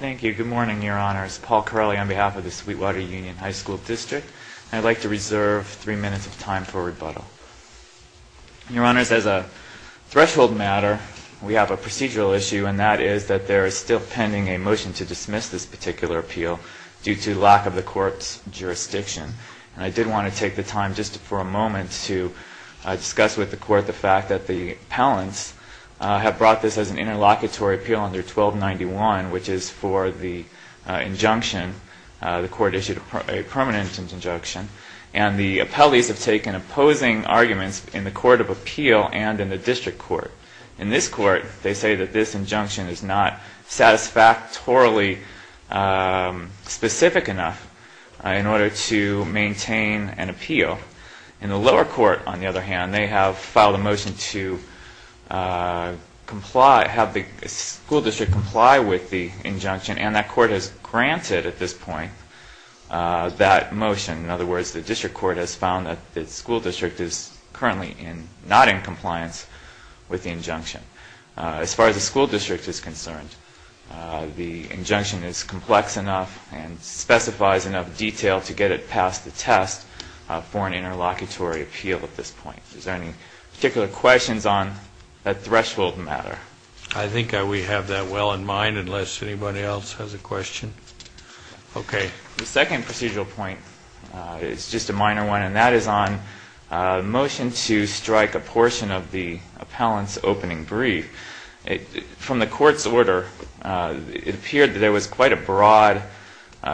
Thank you. Good morning, Your Honors. Paul Carelli on behalf of the Sweetwater Union High School District. I'd like to reserve three minutes of time for rebuttal. Your Honors, as a threshold matter, we have a procedural issue, and that is that there is still pending a motion to dismiss this particular appeal due to lack of the court's jurisdiction. And I did want to take the time just for a moment to discuss with the court the fact that the appellants have brought this as an interlocutory appeal under 1291, which is for the injunction, the court issued a permanent injunction. And the appellees have taken opposing arguments in the Court of Appeal and in the District Court. In this court, they say that this injunction is not satisfactorily specific enough in order to maintain an appeal. In the lower court, on the other hand, they have filed a motion to have the school district comply with the injunction, and that court has granted at this point that motion. In other words, the District Court has found that the school district is currently not in compliance with the injunction. As far as the school district is concerned, the injunction is complex enough and specifies enough detail to get it past the test for an interlocutory appeal at this point. Is there any particular questions on that threshold matter? I think we have that well in mind, unless anybody else has a question. Okay. The second procedural point is just a minor one, and that is on motion to strike a portion of the appellant's opening brief. From the court's order, it appeared that there was quite a broad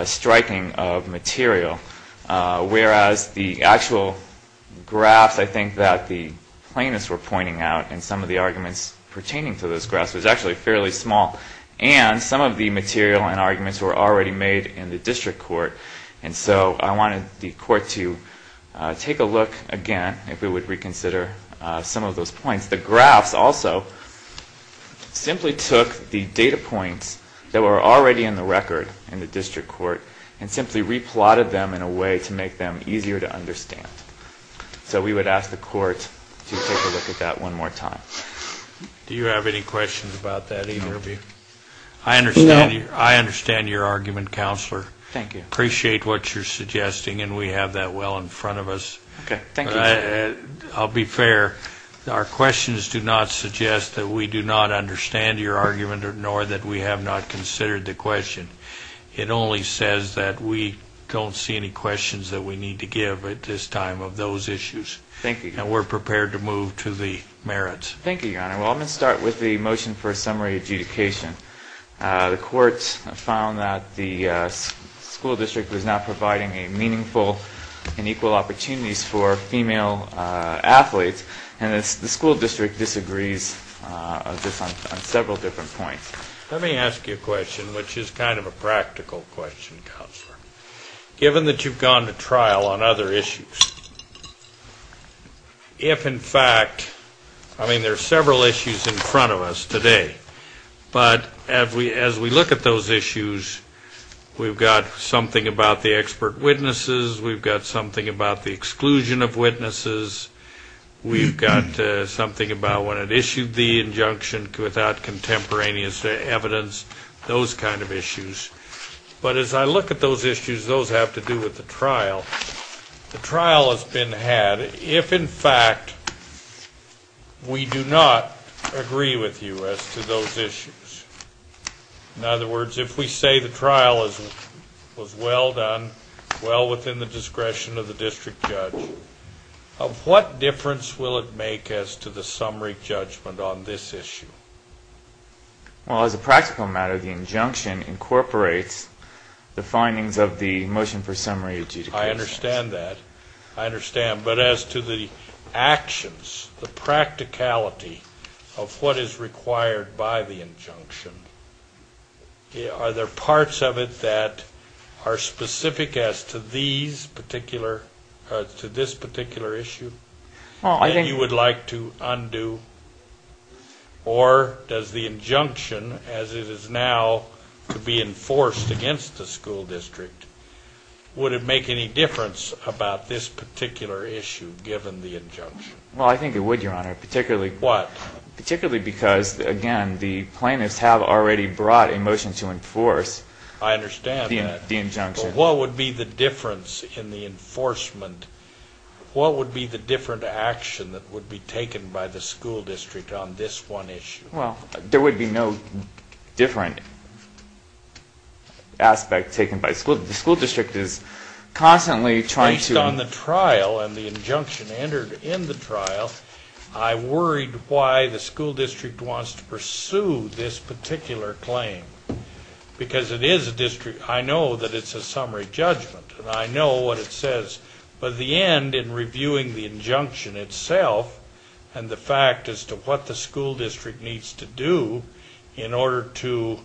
striking of material, whereas the actual graphs I think that the plaintiffs were pointing out in some of the arguments pertaining to those graphs was actually fairly small. And some of the material and arguments were already made in the District Court, and so I wanted the court to take a look again if it would reconsider some of those points. The graphs also simply took the data points that were already in the record in the District Court and simply re-plotted them in a way to make them easier to understand. So we would ask the court to take a look at that one more time. Do you have any questions about that, either of you? No. I understand your argument, Counselor. Thank you. I appreciate what you're suggesting, and we have that well in front of us. Okay. Thank you. I'll be fair. Our questions do not suggest that we do not understand your argument, nor that we have not considered the question. It only says that we don't see any questions that we need to give at this time of those issues. Thank you, Your Honor. And we're prepared to move to the merits. Thank you, Your Honor. Well, I'm going to start with the motion for a summary adjudication. The court found that the school district was not providing meaningful and equal opportunities for female athletes, and the school district disagrees on several different points. Let me ask you a question, which is kind of a practical question, Counselor, given that you've gone to trial on other issues. If, in fact, I mean, there are several issues in front of us today, but as we look at those issues, we've got something about the expert witnesses, we've got something about the exclusion of witnesses, we've got something about when it issued the injunction without contemporaneous evidence, those kind of issues. But as I look at those issues, those have to do with the trial. The trial has been had if, in fact, we do not agree with you as to those issues. In other words, if we say the trial was well done, well within the discretion of the district judge, of what difference will it make as to the summary judgment on this issue? Well, as a practical matter, the injunction incorporates the findings of the motion for summary adjudication. I understand that. I understand. But as to the actions, the practicality of what is required by the injunction, are there parts of it that are specific as to this particular issue that you would like to undo? Or does the injunction, as it is now to be enforced against the school district, would it make any difference about this particular issue given the injunction? Well, I think it would, Your Honor, particularly because, again, the plaintiffs have already brought a motion to enforce the injunction. I understand that. But what would be the difference in the enforcement? What would be the different action that would be taken by the school district on this one issue? Well, there would be no different aspect taken by the school district. The school district is constantly trying to Based on the trial and the injunction entered in the trial, I worried why the school district wants to pursue this particular claim. Because it is a district. I know that it's a summary judgment. And I know what it says. But the end, in reviewing the injunction itself, and the fact as to what the school district needs to do in order to,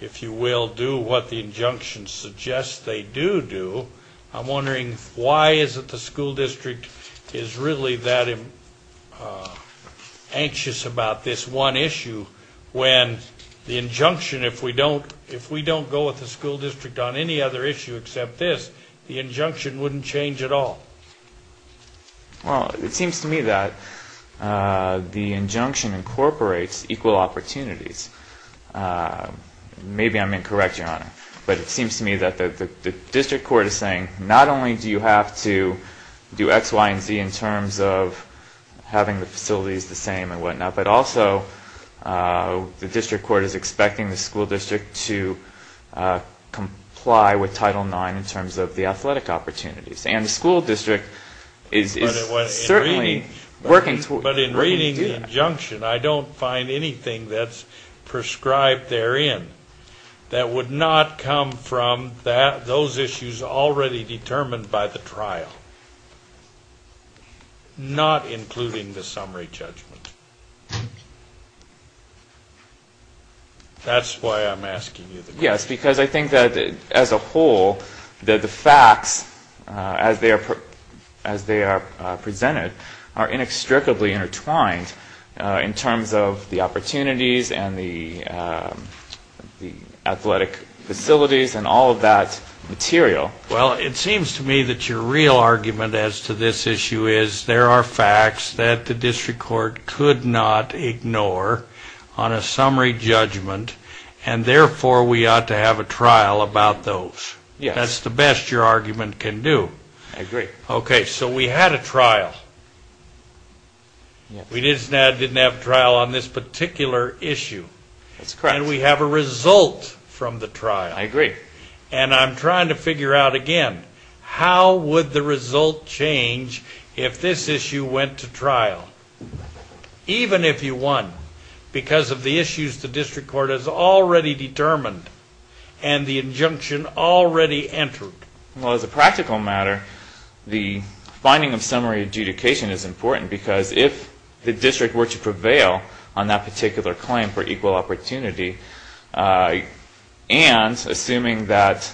if you will, do what the injunction suggests they do do, I'm wondering why is it the school district is really that anxious about this one issue when the injunction, if we don't go with the school district on any other issue except this, the injunction wouldn't change at all? Well, it seems to me that the injunction incorporates equal opportunities. Maybe I'm incorrect, Your Honor. But it seems to me that the district court is saying not only do you have to do X, Y, and Z in terms of having the facilities the same and whatnot, but also the district court is expecting the school district to comply with Title IX in terms of the athletic opportunities. And the school district is certainly working towards that. But in reading the injunction, I don't find anything that's prescribed therein that would not come from those issues already determined by the trial, not including the summary judgment. That's why I'm asking you the question. Yes, because I think that as a whole, that the facts as they are presented are inextricably intertwined in terms of the opportunities and the athletic facilities and all of that material. Well, it seems to me that your real argument as to this issue is there are facts that the district court could not ignore on a summary judgment, and therefore we ought to have a trial about those. Yes. That's the best your argument can do. I agree. Okay, so we had a trial. We didn't have a trial on this particular issue. That's correct. And we have a result from the trial. I agree. And I'm trying to figure out, again, how would the result change if this issue went to trial, even if you won, because of the issues the district court has already determined and the injunction already entered? Well, as a practical matter, the finding of summary adjudication is important because if the district were to prevail on that particular claim for equal opportunity and assuming that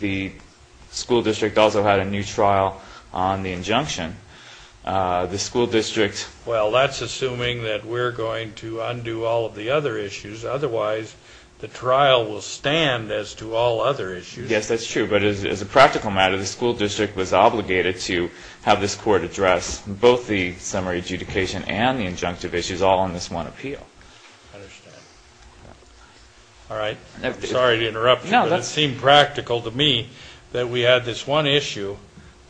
the school district also had a new trial on the injunction, the school district... Well, that's assuming that we're going to undo all of the other issues. Otherwise, the trial will stand as to all other issues. Yes, that's true. But as a practical matter, the school district was obligated to have this court address both the summary adjudication and the injunctive issues all on this one appeal. I understand. All right. Sorry to interrupt you, but it seemed practical to me that we had this one issue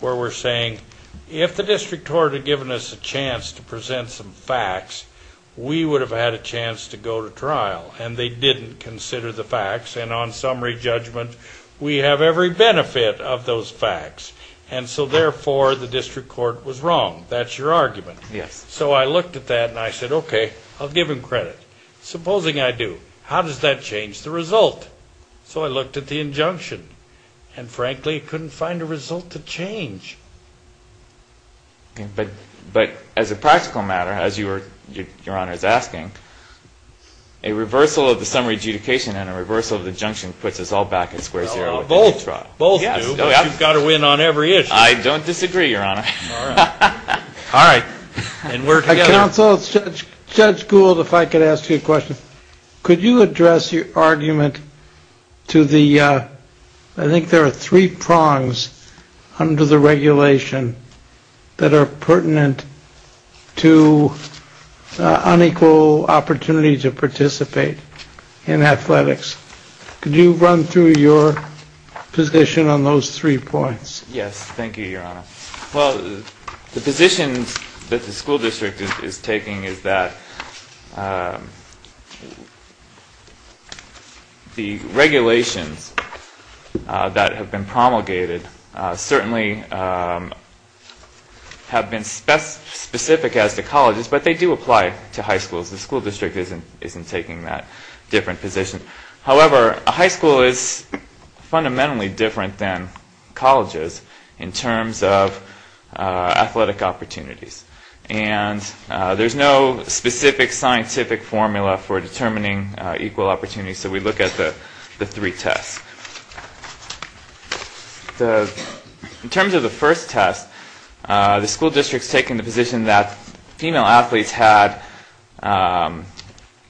where we're saying if the district court had given us a chance to present some facts, we would have had a chance to go to trial, and they didn't consider the facts. And on summary judgment, we have every benefit of those facts. And so, therefore, the district court was wrong. That's your argument. Yes. So I looked at that, and I said, okay, I'll give him credit. Supposing I do, how does that change the result? So I looked at the injunction, and frankly, couldn't find a result to change. But as a practical matter, as Your Honor is asking, a reversal of the summary adjudication and a reversal of the injunction puts us all back at square zero. Both do, but you've got to win on every issue. I don't disagree, Your Honor. All right. And we're together. Counsel, Judge Gould, if I could ask you a question. Could you address your argument to the, I think there are three prongs under the regulation that are pertinent to unequal opportunity to participate in athletics. Could you run through your position on those three points? Yes, thank you, Your Honor. Well, the positions that the school district is taking is that the regulations that have been promulgated certainly have been specific as to colleges, but they do apply to high schools. The school district isn't taking that different position. However, a high school is fundamentally different than colleges in terms of athletic opportunities. And there's no specific scientific formula for determining equal opportunities. So we look at the three tests. In terms of the first test, the school district is taking the position that female athletes had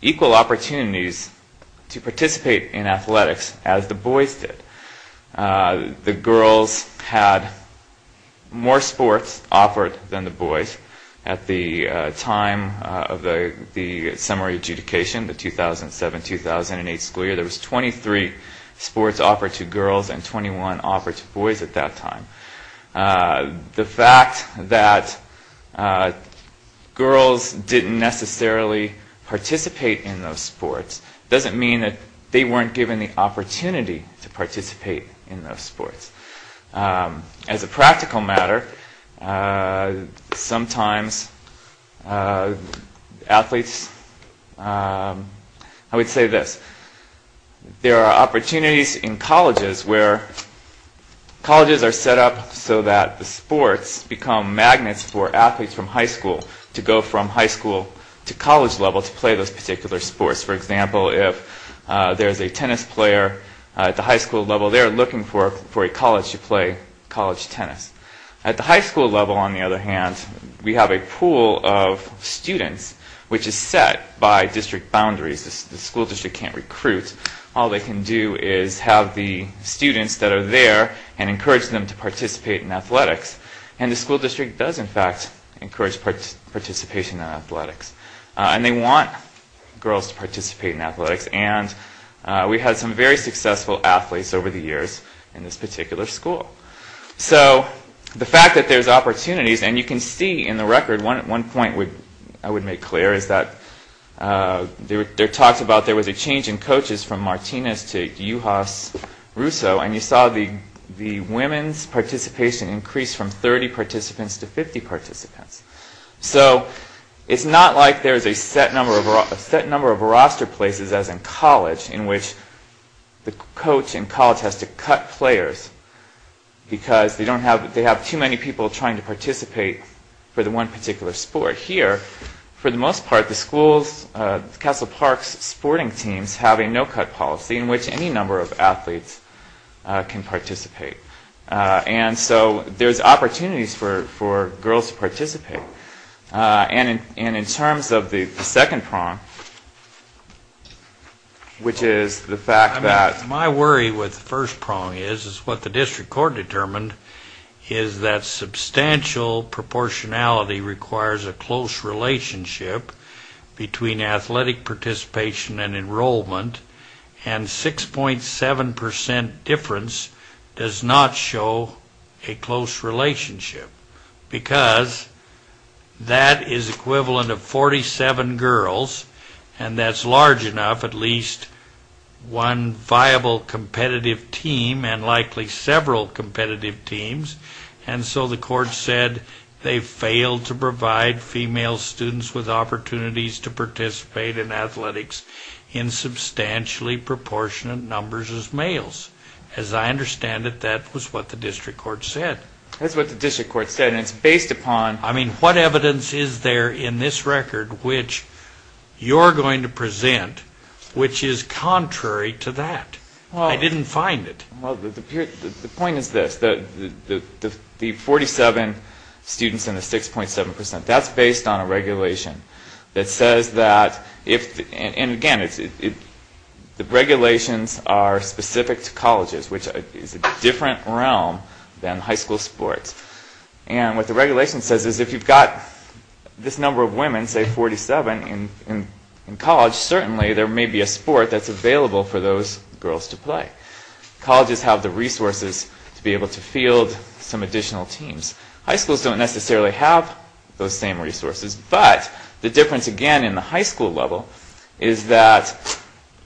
equal opportunities to participate in athletics as the boys did. The girls had more sports offered than the boys at the time of the summary adjudication, the 2007-2008 school year. There was 23 sports offered to girls and 21 offered to boys at that time. The fact that girls didn't necessarily participate in those sports doesn't mean that they weren't given the opportunity to participate in those sports. As a practical matter, sometimes athletes... I would say this. There are opportunities in colleges where colleges are set up so that the sports become magnets for athletes from high school to go from high school to college level to play those particular sports. For example, if there's a tennis player at the high school level, they're looking for a college to play college tennis. At the high school level, on the other hand, we have a pool of students which is set by district boundaries. The school district can't recruit. All they can do is have the students that are there and encourage them to participate in athletics. And the school district does, in fact, encourage participation in athletics. And they want girls to participate in athletics. And we had some very successful athletes over the years in this particular school. So the fact that there's opportunities... And you can see in the record, one point I would make clear, is that there was a change in coaches from Martinez to Yuhas Russo. And you saw the women's participation increase from 30 participants to 50 participants. So it's not like there's a set number of roster places, as in college, in which the coach in college has to cut players because they have too many people trying to participate for the one particular sport. Here, for the most part, the school's Castle Park's sporting teams have a no-cut policy in which any number of athletes can participate. And so there's opportunities for girls to participate. And in terms of the second prong, which is the fact that... What the district court determined is that substantial proportionality requires a close relationship between athletic participation and enrollment. And 6.7% difference does not show a close relationship because that is equivalent of 47 girls. And that's large enough, at least one viable competitive team and likely several competitive teams. And so the court said they failed to provide female students with opportunities to participate in athletics in substantially proportionate numbers as males. As I understand it, that was what the district court said. That's what the district court said, and it's based upon... I mean, what evidence is there in this record which you're going to present which is contrary to that? I didn't find it. Well, the point is this. The 47 students and the 6.7%, that's based on a regulation that says that... And again, the regulations are specific to colleges, which is a different realm than high school sports. And what the regulation says is if you've got this number of women, say 47, in college, certainly there may be a sport that's available for those girls to play. Colleges have the resources to be able to field some additional teams. High schools don't necessarily have those same resources, but the difference, again, in the high school level is that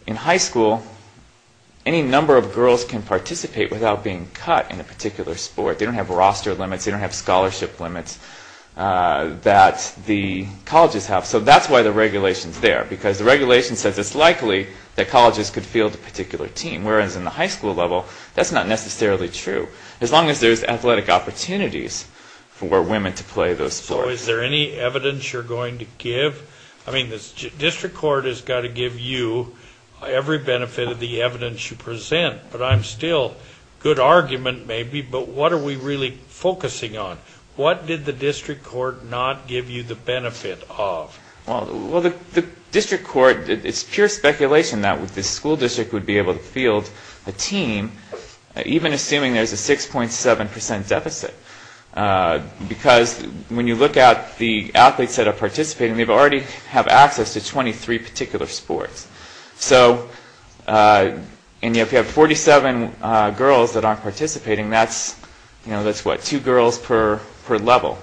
in high school, any number of girls can participate without being cut in a particular sport. They don't have roster limits. They don't have scholarship limits that the colleges have. So that's why the regulation's there, because the regulation says it's likely that colleges could field a particular team, whereas in the high school level, that's not necessarily true, as long as there's athletic opportunities for women to play those sports. So is there any evidence you're going to give? I mean, the district court has got to give you every benefit of the evidence you present, but I'm still... Good argument, maybe, but what are we really focusing on? What did the district court not give you the benefit of? Well, the district court... It's pure speculation that the school district would be able to field a team, even assuming there's a 6.7% deficit, because when you look at the athletes that are participating, they already have access to 23 particular sports. So if you have 47 girls that aren't participating, that's what, two girls per level.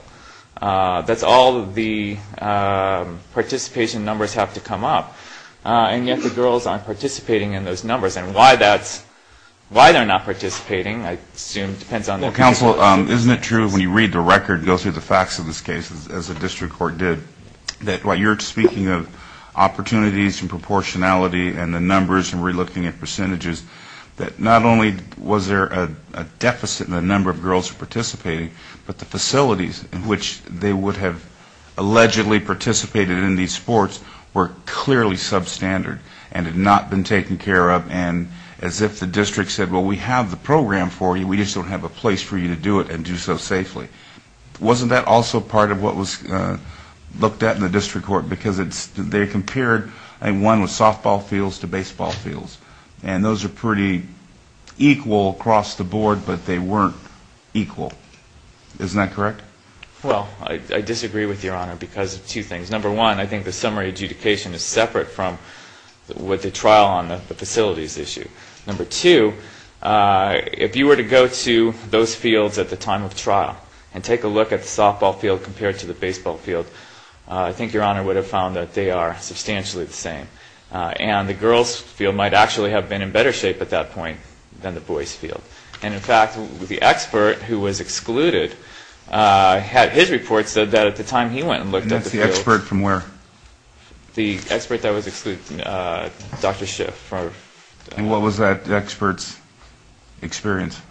That's all the participation numbers have to come up, and yet the girls aren't participating in those numbers. And why they're not participating, I assume, depends on... Well, counsel, isn't it true, when you read the record, go through the facts of this case, as the district court did, that while you're speaking of opportunities and proportionality and the numbers and we're looking at percentages, that not only was there a deficit in the number of girls participating, but the facilities in which they would have allegedly participated in these sports were clearly substandard and had not been taken care of, and as if the district said, well, we have the program for you, we just don't have a place for you to do it and do so safely. Wasn't that also part of what was looked at in the district court? Because they compared a one with softball fields to baseball fields, and those are pretty equal across the board, but they weren't equal. Isn't that correct? Well, I disagree with Your Honor because of two things. Number one, I think the summary adjudication is separate from what the trial on the facilities issue. Number two, if you were to go to those fields at the time of trial and take a look at the softball field compared to the baseball field, I think Your Honor would have found that they are substantially the same. And the girls' field might actually have been in better shape at that point than the boys' field. And in fact, the expert who was excluded had his report said that at the time he went and looked at the field. And that's the expert from where? The expert that was excluded, Dr. Schiff. And what was that expert's experience?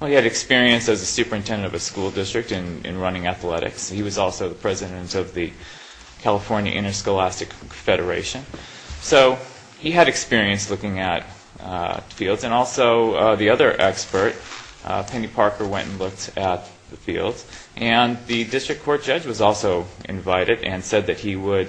Well, he had experience as a superintendent of a school district in running athletics. He was also the president of the California Interscholastic Federation. So he had experience looking at fields. And also the other expert, Penny Parker, went and looked at the fields. And the district court judge was also invited and said that he would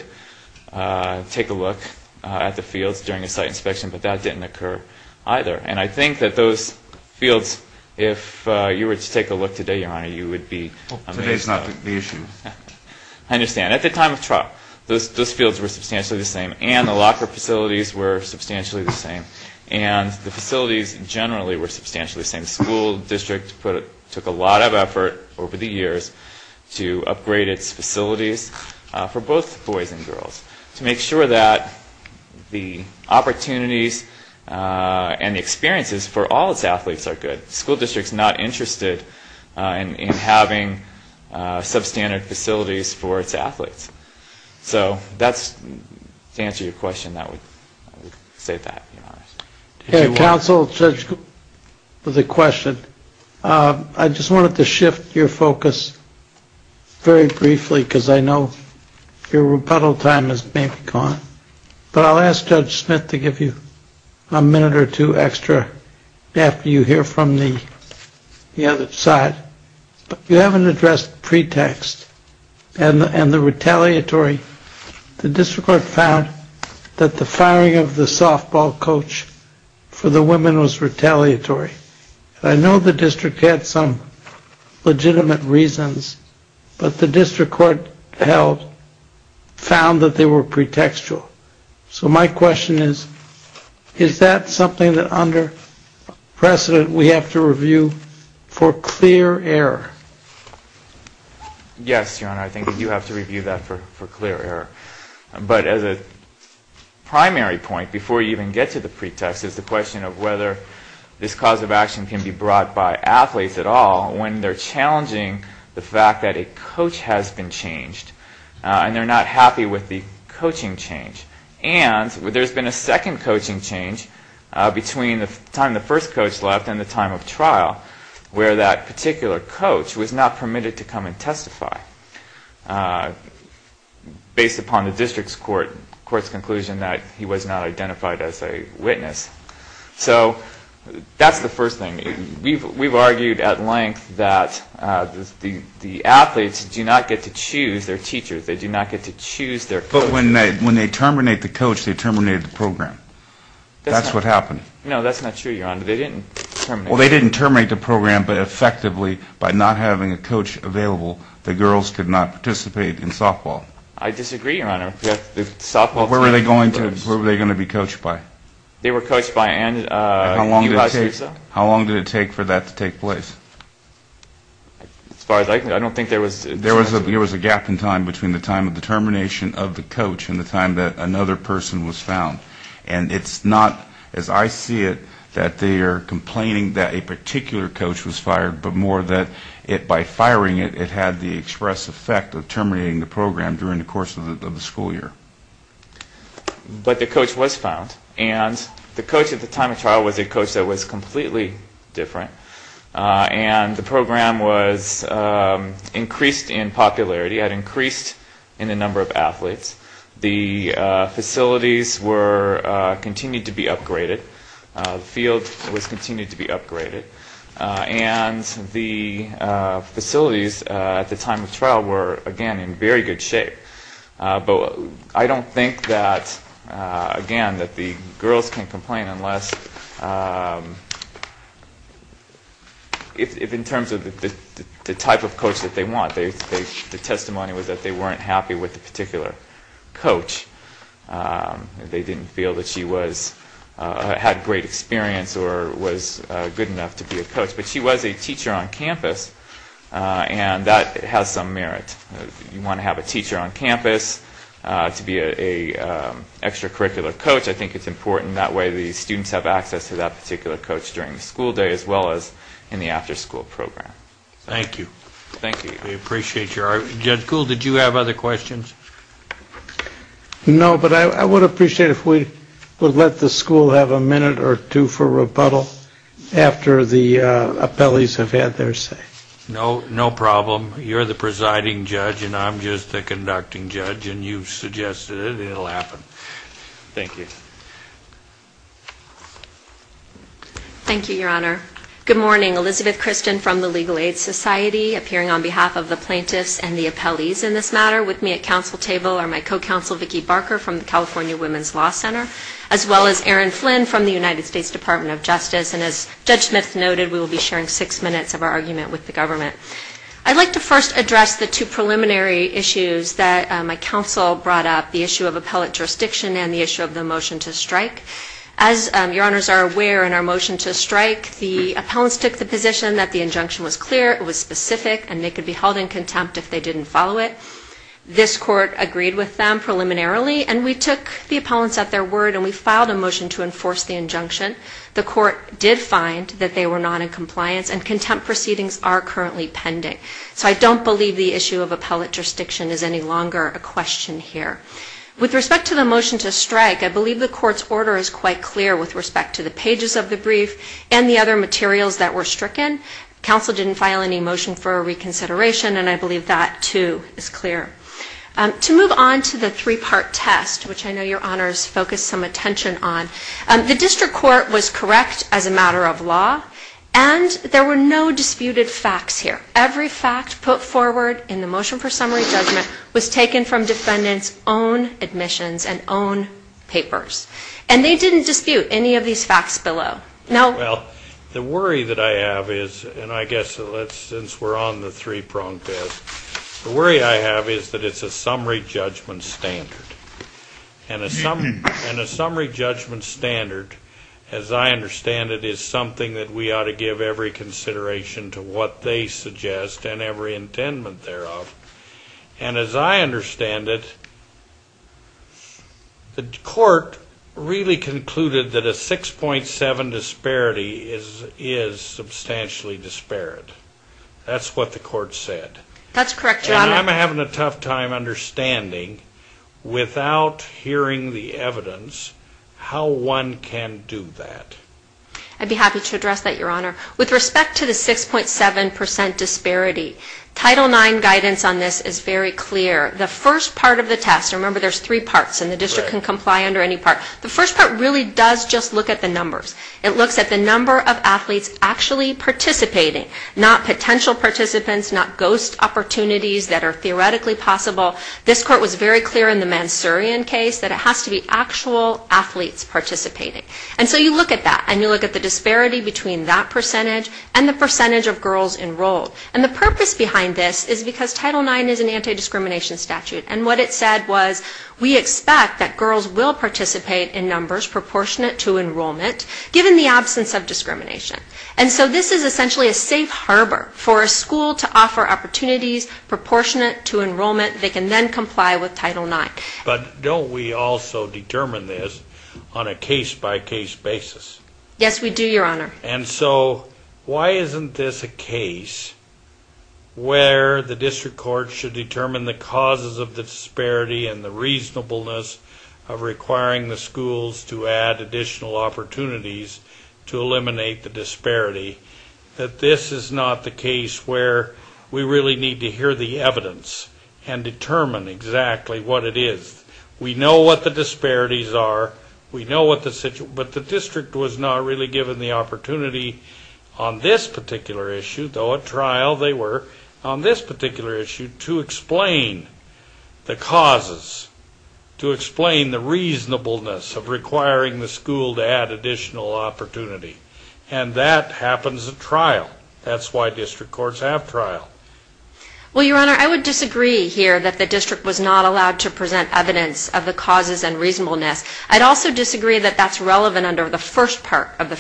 take a look at the fields during a site inspection, but that didn't occur either. And I think that those fields, if you were to take a look today, Your Honor, you would be amazed. Today is not the issue. I understand. At the time of trial, those fields were substantially the same. And the locker facilities were substantially the same. And the facilities generally were substantially the same. The school district took a lot of effort over the years to upgrade its facilities for both boys and girls to make sure that the opportunities and the experiences for all its athletes are good. The school district is not interested in having substandard facilities for its athletes. So to answer your question, I would say that. Counsel, there's a question. I just wanted to shift your focus very briefly because I know your rebuttal time has maybe gone. But I'll ask Judge Smith to give you a minute or two extra after you hear from the other side. You haven't addressed pretext and the retaliatory. The district court found that the firing of the softball coach for the women was retaliatory. I know the district had some legitimate reasons, but the district court held found that they were pretextual. So my question is, is that something that under precedent we have to review for clear error? Yes, Your Honor, I think you have to review that for clear error. But as a primary point before you even get to the pretext is the question of whether this cause of action can be brought by athletes at all when they're challenging the fact that a coach has been changed and they're not happy with the coaching change. And there's been a second coaching change between the time the first coach left and the time of trial where that particular coach was not permitted to come and testify based upon the district court's conclusion that he was not identified as a witness. So that's the first thing. We've argued at length that the athletes do not get to choose their teachers. They do not get to choose their coaches. But when they terminate the coach, they terminate the program. That's what happened. No, that's not true, Your Honor. Well, they didn't terminate the program, but effectively by not having a coach available, the girls could not participate in softball. I disagree, Your Honor. Where were they going to be coached by? They were coached by Ann Ulas-Ruza. How long did it take for that to take place? As far as I can tell, I don't think there was a chance. There was a gap in time between the time of the termination of the coach and the time that another person was found. And it's not, as I see it, that they are complaining that a particular coach was fired, but more that by firing it, it had the express effect of terminating the program during the course of the school year. But the coach was found. And the coach at the time of trial was a coach that was completely different. And the program was increased in popularity. It had increased in the number of athletes. The facilities were continued to be upgraded. The field was continued to be upgraded. And the facilities at the time of trial were, again, in very good shape. But I don't think that, again, that the girls can complain unless, if in terms of the type of coach that they want, the testimony was that they weren't happy with a particular coach. They didn't feel that she had great experience or was good enough to be a coach. But she was a teacher on campus, and that has some merit. You want to have a teacher on campus to be an extracurricular coach. I think it's important that way the students have access to that particular coach during the school day as well as in the after-school program. Thank you. Thank you. We appreciate your art. Judge Kuhl, did you have other questions? No, but I would appreciate if we would let the school have a minute or two for rebuttal after the appellees have had their say. No, no problem. You're the presiding judge, and I'm just the conducting judge, and you've suggested it, and it will happen. Thank you. Thank you, Your Honor. Good morning. Elizabeth Kristen from the Legal Aid Society, appearing on behalf of the plaintiffs and the appellees in this matter. With me at council table are my co-counsel, Vicki Barker, from the California Women's Law Center, as well as Erin Flynn from the United States Department of Justice. And as Judge Smith noted, we will be sharing six minutes of our argument with the government. I'd like to first address the two preliminary issues that my counsel brought up, the issue of appellate jurisdiction and the issue of the motion to strike. As Your Honors are aware in our motion to strike, the appellants took the position that the injunction was clear, it was specific, and they could be held in contempt if they didn't follow it. This court agreed with them preliminarily, and we took the appellants at their word, and we filed a motion to enforce the injunction. The court did find that they were not in compliance, and contempt proceedings are currently pending. So I don't believe the issue of appellate jurisdiction is any longer a question here. With respect to the motion to strike, I believe the court's order is quite clear with respect to the pages of the brief and the other materials that were stricken. Council didn't file any motion for a reconsideration, and I believe that, too, is clear. To move on to the three-part test, which I know Your Honors focused some attention on, the district court was correct as a matter of law, and there were no disputed facts here. Every fact put forward in the motion for summary judgment was taken from defendants' own admissions and own papers. And they didn't dispute any of these facts below. Well, the worry that I have is, and I guess since we're on the three-prong test, the worry I have is that it's a summary judgment standard. And a summary judgment standard, as I understand it, is something that we ought to give every consideration to what they suggest and every intent thereof. And as I understand it, the court really concluded that a 6.7 disparity is substantially disparate. That's what the court said. That's correct, Your Honor. And I'm having a tough time understanding, without hearing the evidence, how one can do that. I'd be happy to address that, Your Honor. With respect to the 6.7% disparity, Title IX guidance on this is very clear. The first part of the test, remember there's three parts, and the district can comply under any part. The first part really does just look at the numbers. It looks at the number of athletes actually participating, not potential participants, not ghost opportunities that are theoretically possible. This court was very clear in the Mansourian case that it has to be actual athletes participating. And so you look at that, and you look at the disparity between that percentage and the percentage of girls enrolled. And the purpose behind this is because Title IX is an anti-discrimination statute, and what it said was we expect that girls will participate in numbers proportionate to enrollment, given the absence of discrimination. And so this is essentially a safe harbor for a school to offer opportunities proportionate to enrollment. They can then comply with Title IX. But don't we also determine this on a case-by-case basis? Yes, we do, Your Honor. And so why isn't this a case where the district court should determine the causes of the disparity and the reasonableness of requiring the schools to add additional opportunities to eliminate the disparity, that this is not the case where we really need to hear the evidence and determine exactly what it is. We know what the disparities are. We know what the situation is. But the district was not really given the opportunity on this particular issue, though at trial they were, on this particular issue, to explain the causes, to explain the reasonableness of requiring the school to add additional opportunity. And that happens at trial. That's why district courts have trial. Well, Your Honor, I would disagree here that the district was not allowed to present evidence of the causes and reasonableness. I'd also disagree that that's relevant under the first part of the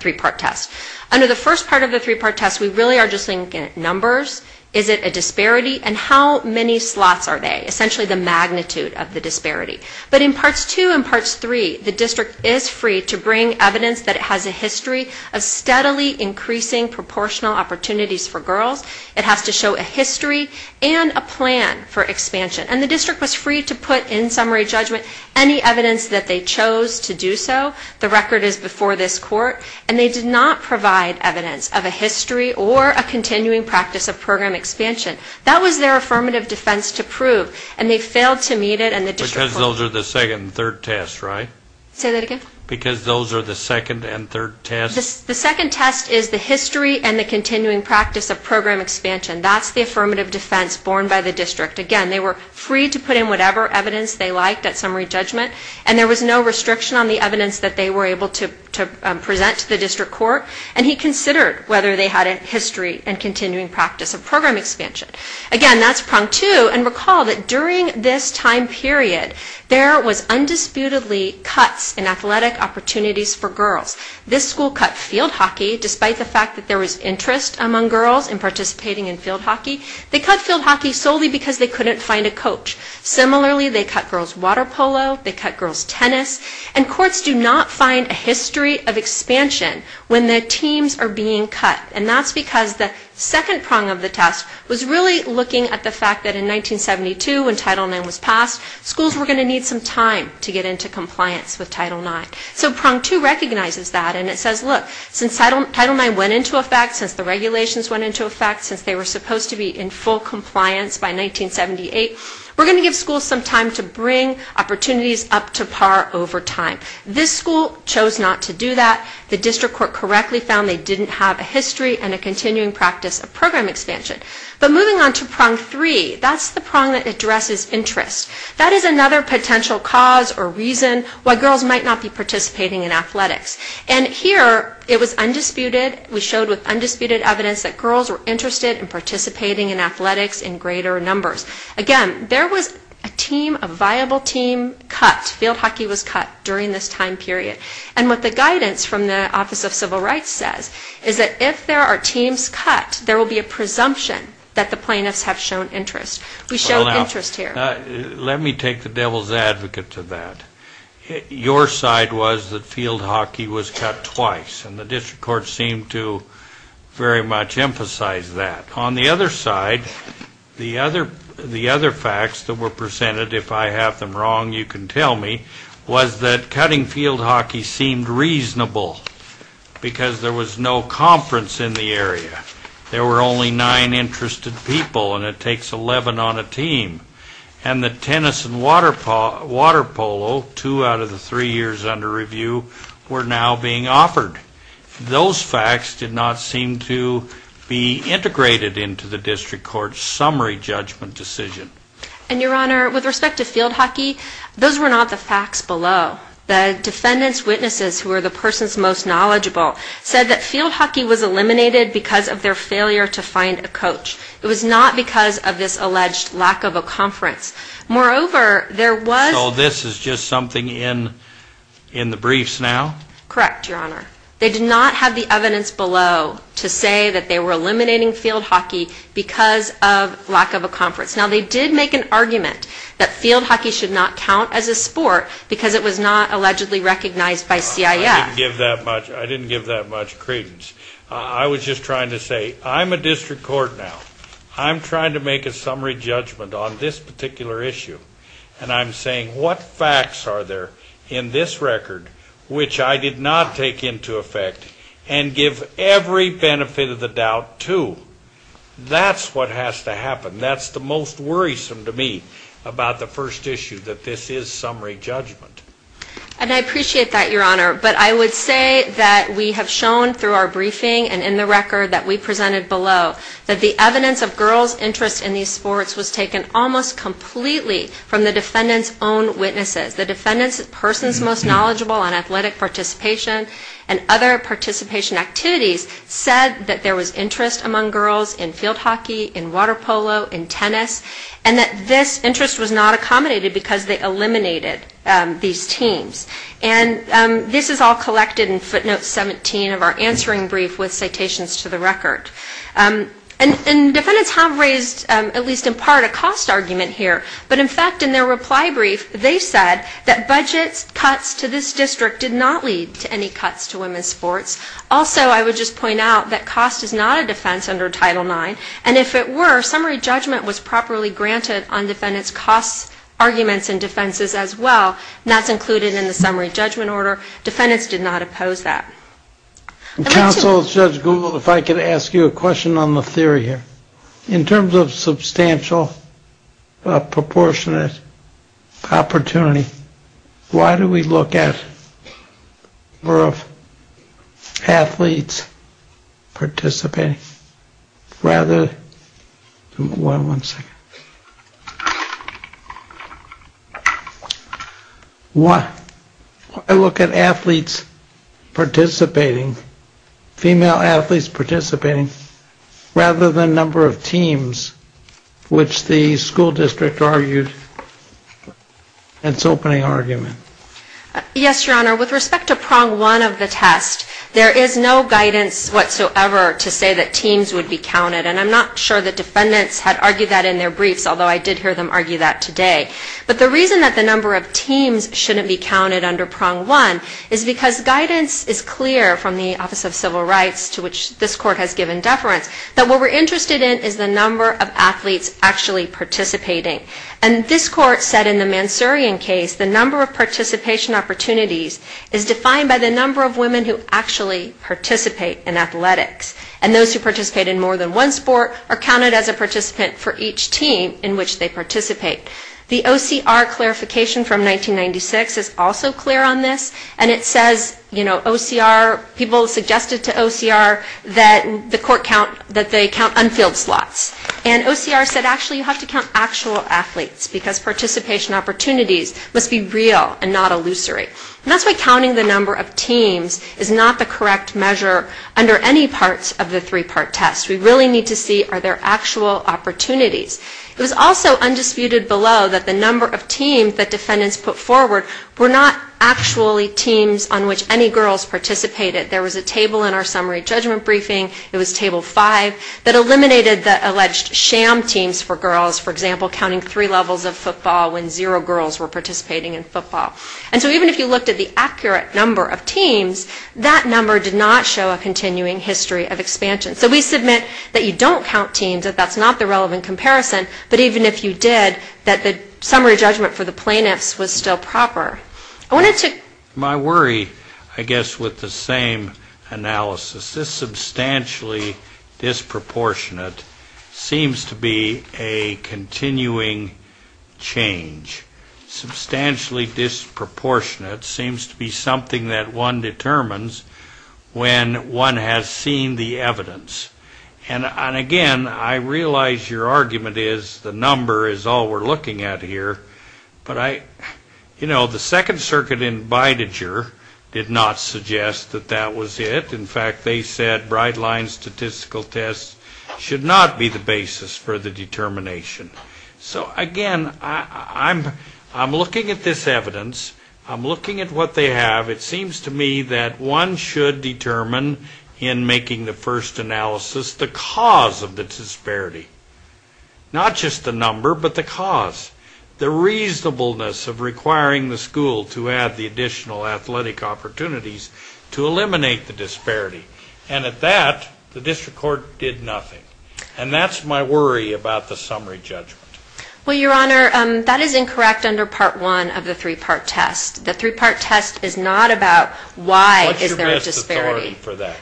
three-part test. Under the first part of the three-part test, we really are just looking at numbers, is it a disparity, and how many slots are they, essentially the magnitude of the disparity. But in Parts 2 and Parts 3, the district is free to bring evidence that it has a history of steadily increasing proportional opportunities for girls. It has to show a history and a plan for expansion. And the district was free to put in summary judgment any evidence that they chose to do so. The record is before this court. And they did not provide evidence of a history or a continuing practice of program expansion. That was their affirmative defense to prove. And they failed to meet it, and the district court- Because those are the second and third tests, right? Say that again? Because those are the second and third tests? The second test is the history and the continuing practice of program expansion. That's the affirmative defense borne by the district. Again, they were free to put in whatever evidence they liked at summary judgment, and there was no restriction on the evidence that they were able to present to the district court. And he considered whether they had a history and continuing practice of program expansion. Again, that's Prong 2. And recall that during this time period, there was undisputedly cuts in athletic opportunities for girls. This school cut field hockey, despite the fact that there was interest among girls in participating in field hockey. They cut field hockey solely because they couldn't find a coach. Similarly, they cut girls' water polo. They cut girls' tennis. And courts do not find a history of expansion when the teams are being cut. And that's because the second prong of the test was really looking at the fact that in 1972, when Title IX was passed, schools were going to need some time to get into compliance with Title IX. So Prong 2 recognizes that, and it says, look, since Title IX went into effect, since the regulations went into effect, since they were supposed to be in full compliance by 1978, we're going to give schools some time to bring opportunities up to par over time. This school chose not to do that. The district court correctly found they didn't have a history and a continuing practice of program expansion. But moving on to Prong 3, that's the prong that addresses interest. That is another potential cause or reason why girls might not be participating in athletics. And here it was undisputed. We showed with undisputed evidence that girls were interested in participating in athletics in greater numbers. Again, there was a team, a viable team cut. Field hockey was cut during this time period. And what the guidance from the Office of Civil Rights says is that if there are teams cut, there will be a presumption that the plaintiffs have shown interest. We show interest here. Let me take the devil's advocate to that. Your side was that field hockey was cut twice, and the district court seemed to very much emphasize that. On the other side, the other facts that were presented, if I have them wrong, you can tell me, was that cutting field hockey seemed reasonable because there was no conference in the area. There were only nine interested people, and it takes 11 on a team. And the tennis and water polo, two out of the three years under review, were now being offered. Those facts did not seem to be integrated into the district court's summary judgment decision. And, Your Honor, with respect to field hockey, those were not the facts below. The defendant's witnesses, who are the person's most knowledgeable, said that field hockey was eliminated because of their failure to find a coach. It was not because of this alleged lack of a conference. Moreover, there was... So this is just something in the briefs now? Correct, Your Honor. They did not have the evidence below to say that they were eliminating field hockey because of lack of a conference. Now, they did make an argument that field hockey should not count as a sport because it was not allegedly recognized by CIF. I didn't give that much credence. I was just trying to say, I'm a district court now. I'm trying to make a summary judgment on this particular issue. And I'm saying, what facts are there in this record which I did not take into effect and give every benefit of the doubt to? That's what has to happen. That's the most worrisome to me about the first issue, that this is summary judgment. And I appreciate that, Your Honor. But I would say that we have shown through our briefing and in the record that we presented below that the evidence of girls' interest in these sports was taken almost completely from the defendant's own witnesses. The defendant's person's most knowledgeable on athletic participation and other participation activities said that there was interest among girls in field hockey, in water polo, in tennis, and that this interest was not accommodated because they eliminated these teams. And this is all collected in footnote 17 of our answering brief with citations to the record. And defendants have raised, at least in part, a cost argument here. But, in fact, in their reply brief, they said that budget cuts to this district did not lead to any cuts to women's sports. Also, I would just point out that cost is not a defense under Title IX. And if it were, summary judgment was properly granted on defendants' cost arguments and defenses as well, and that's included in the summary judgment order. Defendants did not oppose that. Counsel, Judge Gould, if I could ask you a question on the theory here. In terms of substantial proportionate opportunity, why do we look at the number of athletes participating rather than number of teams, which the school district argued in its opening argument? Yes, Your Honor, with respect to Prong 1 of the test, there is no guidance whatsoever to say that teams would be counted. And I'm not sure that defendants had argued that in their briefs, although I did hear them argue that today. But the reason that the number of teams shouldn't be counted under Prong 1 is because guidance is clear from the Office of Civil Rights to which this Court has given deference, that what we're interested in is the number of athletes actually participating. And this Court said in the Mansourian case the number of participation opportunities is defined by the number of women who actually participate in athletics. And those who participate in more than one sport are counted as a participant for each team in which they participate. The OCR clarification from 1996 is also clear on this, and it says, you know, OCR, people suggested to OCR that the Court count, that they count unfilled slots. And OCR said actually you have to count actual athletes because participation opportunities must be real and not illusory. And that's why counting the number of teams is not the correct measure under any parts of the three-part test. We really need to see are there actual opportunities. It was also undisputed below that the number of teams that defendants put forward were not actually teams on which any girls participated. There was a table in our summary judgment briefing, it was Table 5, that eliminated the alleged sham teams for girls, for example, counting three levels of football when zero girls were participating in football. And so even if you looked at the accurate number of teams, that number did not show a continuing history of expansion. So we submit that you don't count teams, that that's not the relevant comparison, but even if you did, that the summary judgment for the plaintiffs was still proper. I wanted to... I wanted to point out that the fact that it's proportionate seems to be something that one determines when one has seen the evidence. And again, I realize your argument is the number is all we're looking at here, but I, you know, the Second Circuit in Bidinger did not suggest that that was it. In fact, they said bright lines statistical tests should not be the basis for the determination. So again, I'm looking at this evidence. I'm looking at what they have. It seems to me that one should determine in making the first analysis the cause of the disparity, not just the number, but the cause, the reasonableness of requiring the school to add the additional athletic opportunities to eliminate the disparity. And at that, the district court did nothing. And that's my worry about the summary judgment. Well, Your Honor, that is incorrect under Part 1 of the three-part test. The three-part test is not about why is there a disparity.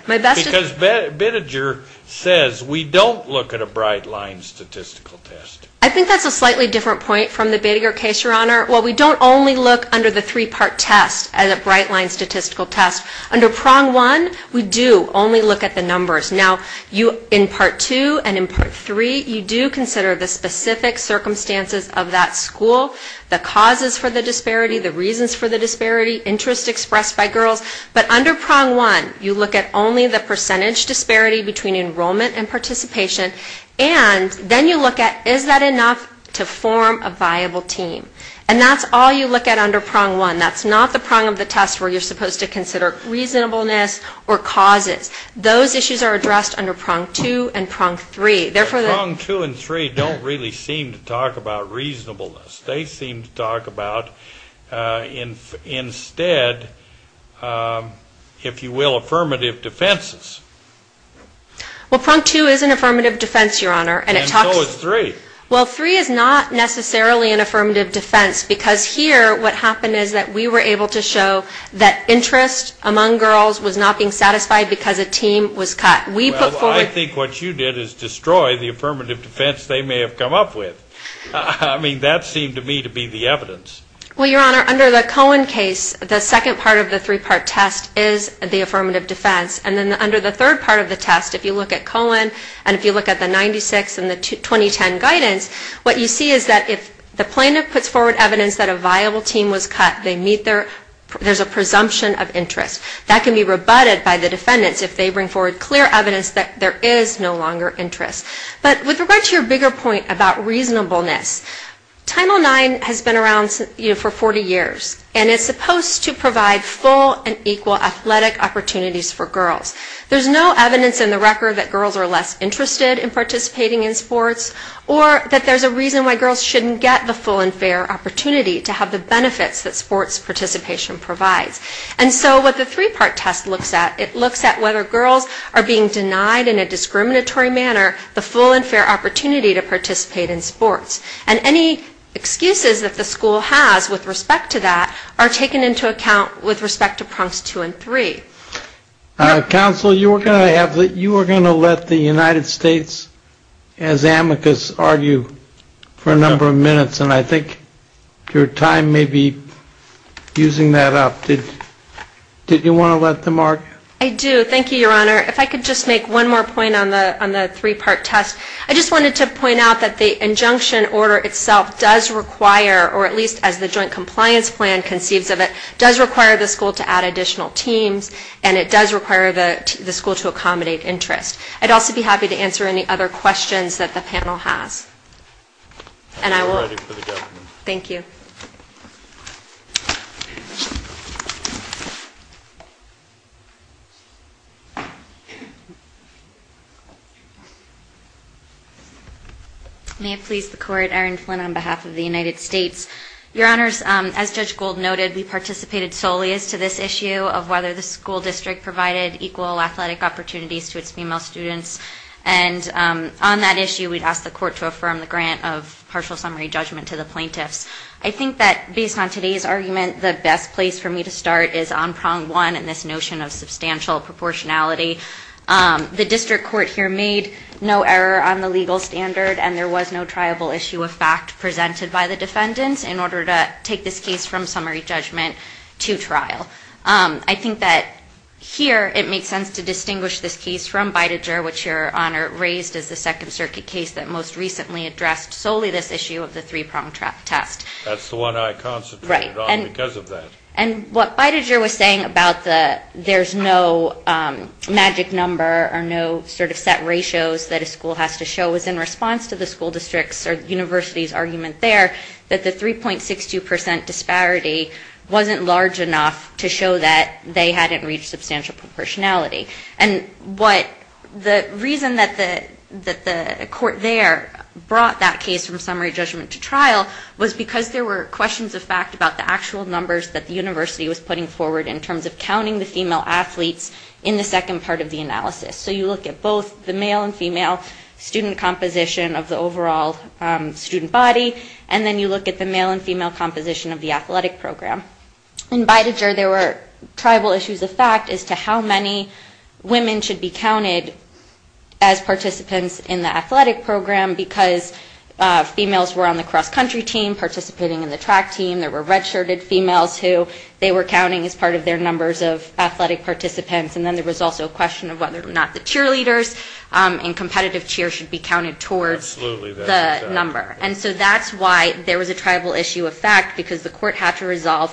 Because Bidinger says we don't look at a bright line statistical test. I think that's a slightly different point from the Bidinger case, Your Honor. Well, we don't only look under the three-part test as a bright line statistical test. Under Prong 1, we do only look at the numbers. Now, in Part 2 and in Part 3, you do consider the specific circumstances of that school, the causes for the disparity, the reasons for the disparity, interest expressed by girls. But under Prong 1, you look at only the percentage disparity between enrollment and participation, and then you look at is that enough to form a viable team. And that's all you look at under Prong 1. That's not the prong of the test where you're supposed to consider reasonableness or causes. Those issues are addressed under Prong 2 and Prong 3. Prong 2 and 3 don't really seem to talk about reasonableness. They seem to talk about instead, if you will, affirmative defenses. Well, Prong 2 is an affirmative defense, Your Honor. And so is 3. Well, 3 is not necessarily an affirmative defense because here what happened is that we were able to show that interest among girls was not being satisfied because a team was cut. Well, I think what you did is destroy the affirmative defense they may have come up with. I mean, that seemed to me to be the evidence. Well, Your Honor, under the Cohen case, the second part of the three-part test is the affirmative defense. And then under the third part of the test, if you look at Cohen and if you look at the 96 and the 2010 guidance, what you see is that if the plaintiff puts forward evidence that a viable team was cut, there's a presumption of interest. That can be rebutted by the defendants if they bring forward clear evidence that there is no longer interest. But with regard to your bigger point about reasonableness, Title IX has been around for 40 years. And it's supposed to provide full and equal athletic opportunities for girls. There's no evidence in the record that girls are less interested in participating in sports or that there's a reason why girls shouldn't get the full and fair opportunity to have the benefits that sports participation provides. And so what the three-part test looks at, it looks at whether girls are being denied in a discriminatory manner the full and fair opportunity to participate in sports. And any excuses that the school has with respect to that are taken into account with respect to prongs two and three. Counsel, you were going to let the United States, as amicus, argue for a number of minutes. And I think your time may be using that up. Did you want to let them argue? I do. Thank you, Your Honor. If I could just make one more point on the three-part test. I just wanted to point out that the injunction order itself does require, or at least as the joint compliance plan conceives of it, does require the school to add additional teams and it does require the school to accommodate interest. I'd also be happy to answer any other questions that the panel has. Thank you. May it please the Court, Erin Flynn on behalf of the United States. Your Honors, as Judge Gould noted, we participated solely as to this issue of whether the school district provided equal athletic opportunities to its female students. And on that issue, we'd ask the Court to affirm the grant of partial summary judgment to the plaintiffs. I think that based on today's argument, the best place for me to start is on prong one and this notion of substantial proportionality. The district court here made no error on the legal standard and there was no triable issue of fact presented by the defendants in order to take this case from summary judgment to trial. I think that here it makes sense to distinguish this case from Bidiger, which Your Honor raised as the Second Circuit case that most recently addressed solely this issue of the three-prong test. That's the one I concentrated on because of that. And what Bidiger was saying about the there's no magic number or no sort of set ratios that a school has to show was in response to the school district's or university's argument there that the 3.62% disparity wasn't large enough to show that they hadn't reached substantial proportionality. And what the reason that the court there brought that case from summary judgment to trial was because there were questions of fact about the actual numbers that the university was putting forward in terms of counting the female athletes in the second part of the analysis. So you look at both the male and female student composition of the overall student body and then you look at the male and female composition of the athletic program. In Bidiger there were triable issues of fact as to how many women should be counted as participants in the athletic program because females were on the cross-country team participating in the track team. There were red-shirted females who they were counting as part of their numbers of athletic participants. And then there was also a question of whether or not the cheerleaders and competitive cheer should be counted towards the number. And so that's why there was a triable issue of fact because the court had to resolve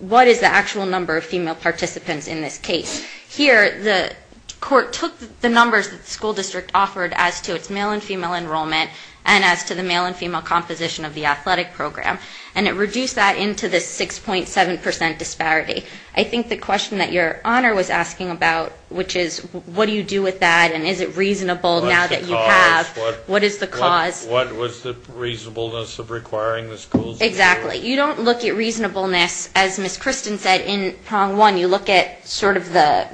what is the actual number of female participants in this case. Here the court took the numbers that the school district offered as to its male and female enrollment and as to the male and female composition of the athletic program. And it reduced that into this 6.7 percent disparity. I think the question that your honor was asking about, which is what do you do with that and is it reasonable now that you have. What is the cause? What was the reasonableness of requiring the schools to do it? Exactly. You don't look at reasonableness as Ms. Christen said in prong one. You look at sort of the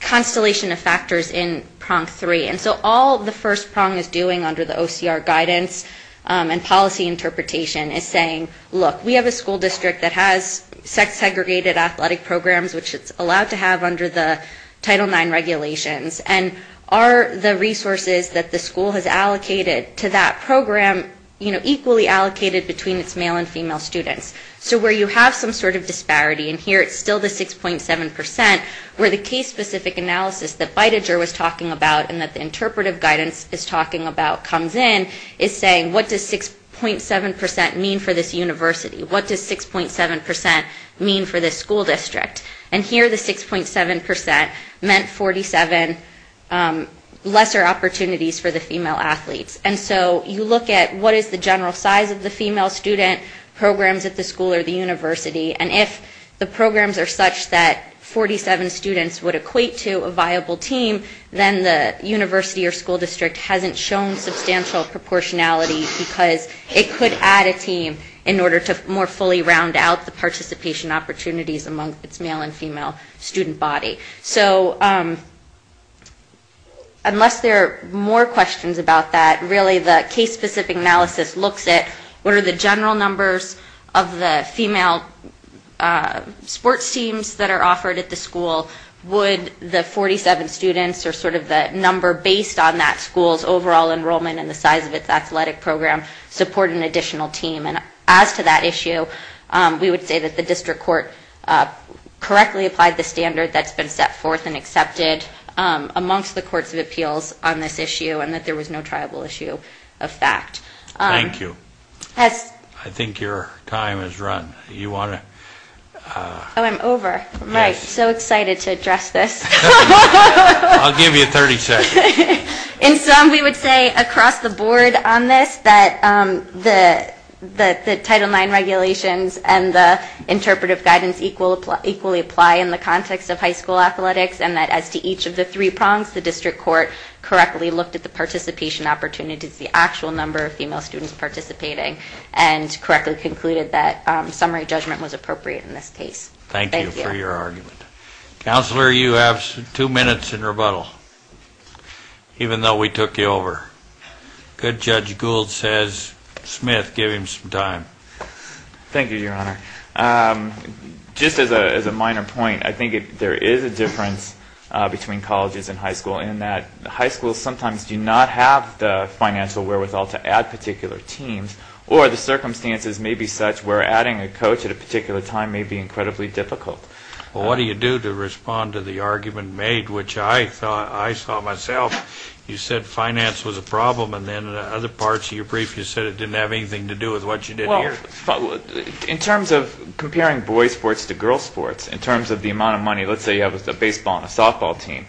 constellation of factors in prong three. And so all the first prong is doing under the OCR guidance and policy interpretation is saying look, we have a school district that has sex segregated athletic programs which it's allowed to have under the Title IX regulations. And are the resources that the school has allocated to that program, you know, equally allocated between its male and female students. So where you have some sort of disparity and here it's still the 6.7 percent where the case specific analysis that Bidiger was talking about and that the interpretive guidance is talking about comes in is saying what does 6.7 percent mean for this university? What does 6.7 percent mean for this school district? And here the 6.7 percent meant 47 lesser opportunities for the female athletes. And so you look at what is the general size of the female student programs at the school or the university. And if the programs are such that 47 students would equate to a viable team, then the university or school district hasn't shown substantial proportionality because it could add a team in order to more effectively round out the participation opportunities among its male and female student body. So unless there are more questions about that, really the case specific analysis looks at what are the general numbers of the female sports teams that are offered at the school? Would the 47 students or sort of the number based on that school's overall enrollment and the size of its athletic program support an additional team? And as to that issue, we would say that the district court correctly applied the standard that's been set forth and accepted amongst the courts of appeals on this issue and that there was no triable issue of fact. Thank you. I think your time has run. I'm over. I'm so excited to address this. I'll give you 30 seconds. In sum, we would say across the board on this that the Title IX regulations and the interpretive guidance equally apply in the context of high school athletics and that as to each of the three prongs, the district court correctly looked at the participation opportunities, the actual number of female students participating and correctly concluded that summary judgment was appropriate in this case. Thank you for your argument. Counselor, you have two minutes in rebuttal, even though we took you over. Good Judge Gould says, Smith, give him some time. Thank you, Your Honor. Just as a minor point, I think there is a difference between colleges and high school in that high schools sometimes do not have the financial wherewithal to add particular teams or the circumstances may be such where adding a coach at a particular time may be incredibly difficult. Well, what do you do to respond to the argument made, which I saw myself? You said finance was a problem and then in other parts of your brief you said it didn't have anything to do with what you did here. In terms of comparing boys sports to girls sports, in terms of the amount of money, let's say you have a baseball and a softball team,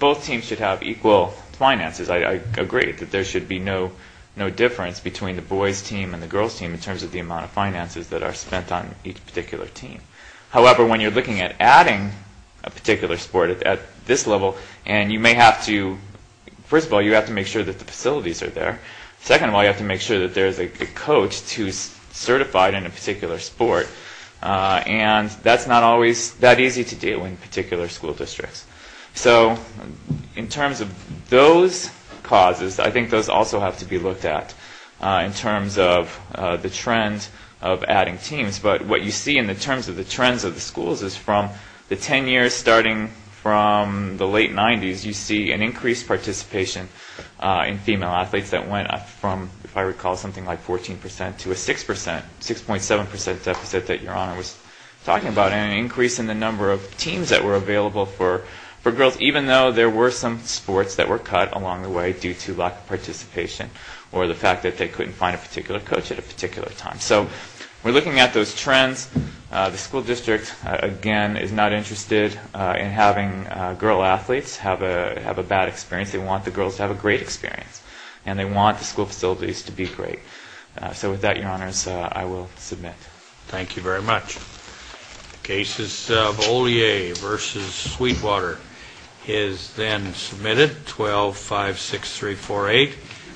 both teams should have equal finances. I agree that there should be no difference between the boys team and the girls team in terms of the amount of finances that are spent on each particular team. However, when you are looking at adding a particular sport at this level and you may have to, first of all, you have to make sure that the facilities are there. Second of all, you have to make sure that there is a coach who is certified in a particular sport and that is not always that easy to do in particular school districts. So in terms of those causes, I think those also have to be looked at in terms of the trend of adding teams. But what you see in terms of the trends of the schools is from the 10 years starting from the late 90s, you see an increased participation in female athletes that went up from, if I recall, something like 14% to a 6%, 6.7% deficit that Your Honor was talking about and an increase in the number of teams that were available for girls each year. Even though there were some sports that were cut along the way due to lack of participation or the fact that they couldn't find a particular coach at a particular time. So we are looking at those trends. The school district, again, is not interested in having girl athletes have a bad experience. They want the girls to have a great experience and they want the school facilities to be great. So with that, Your Honors, I will submit. Thank you very much.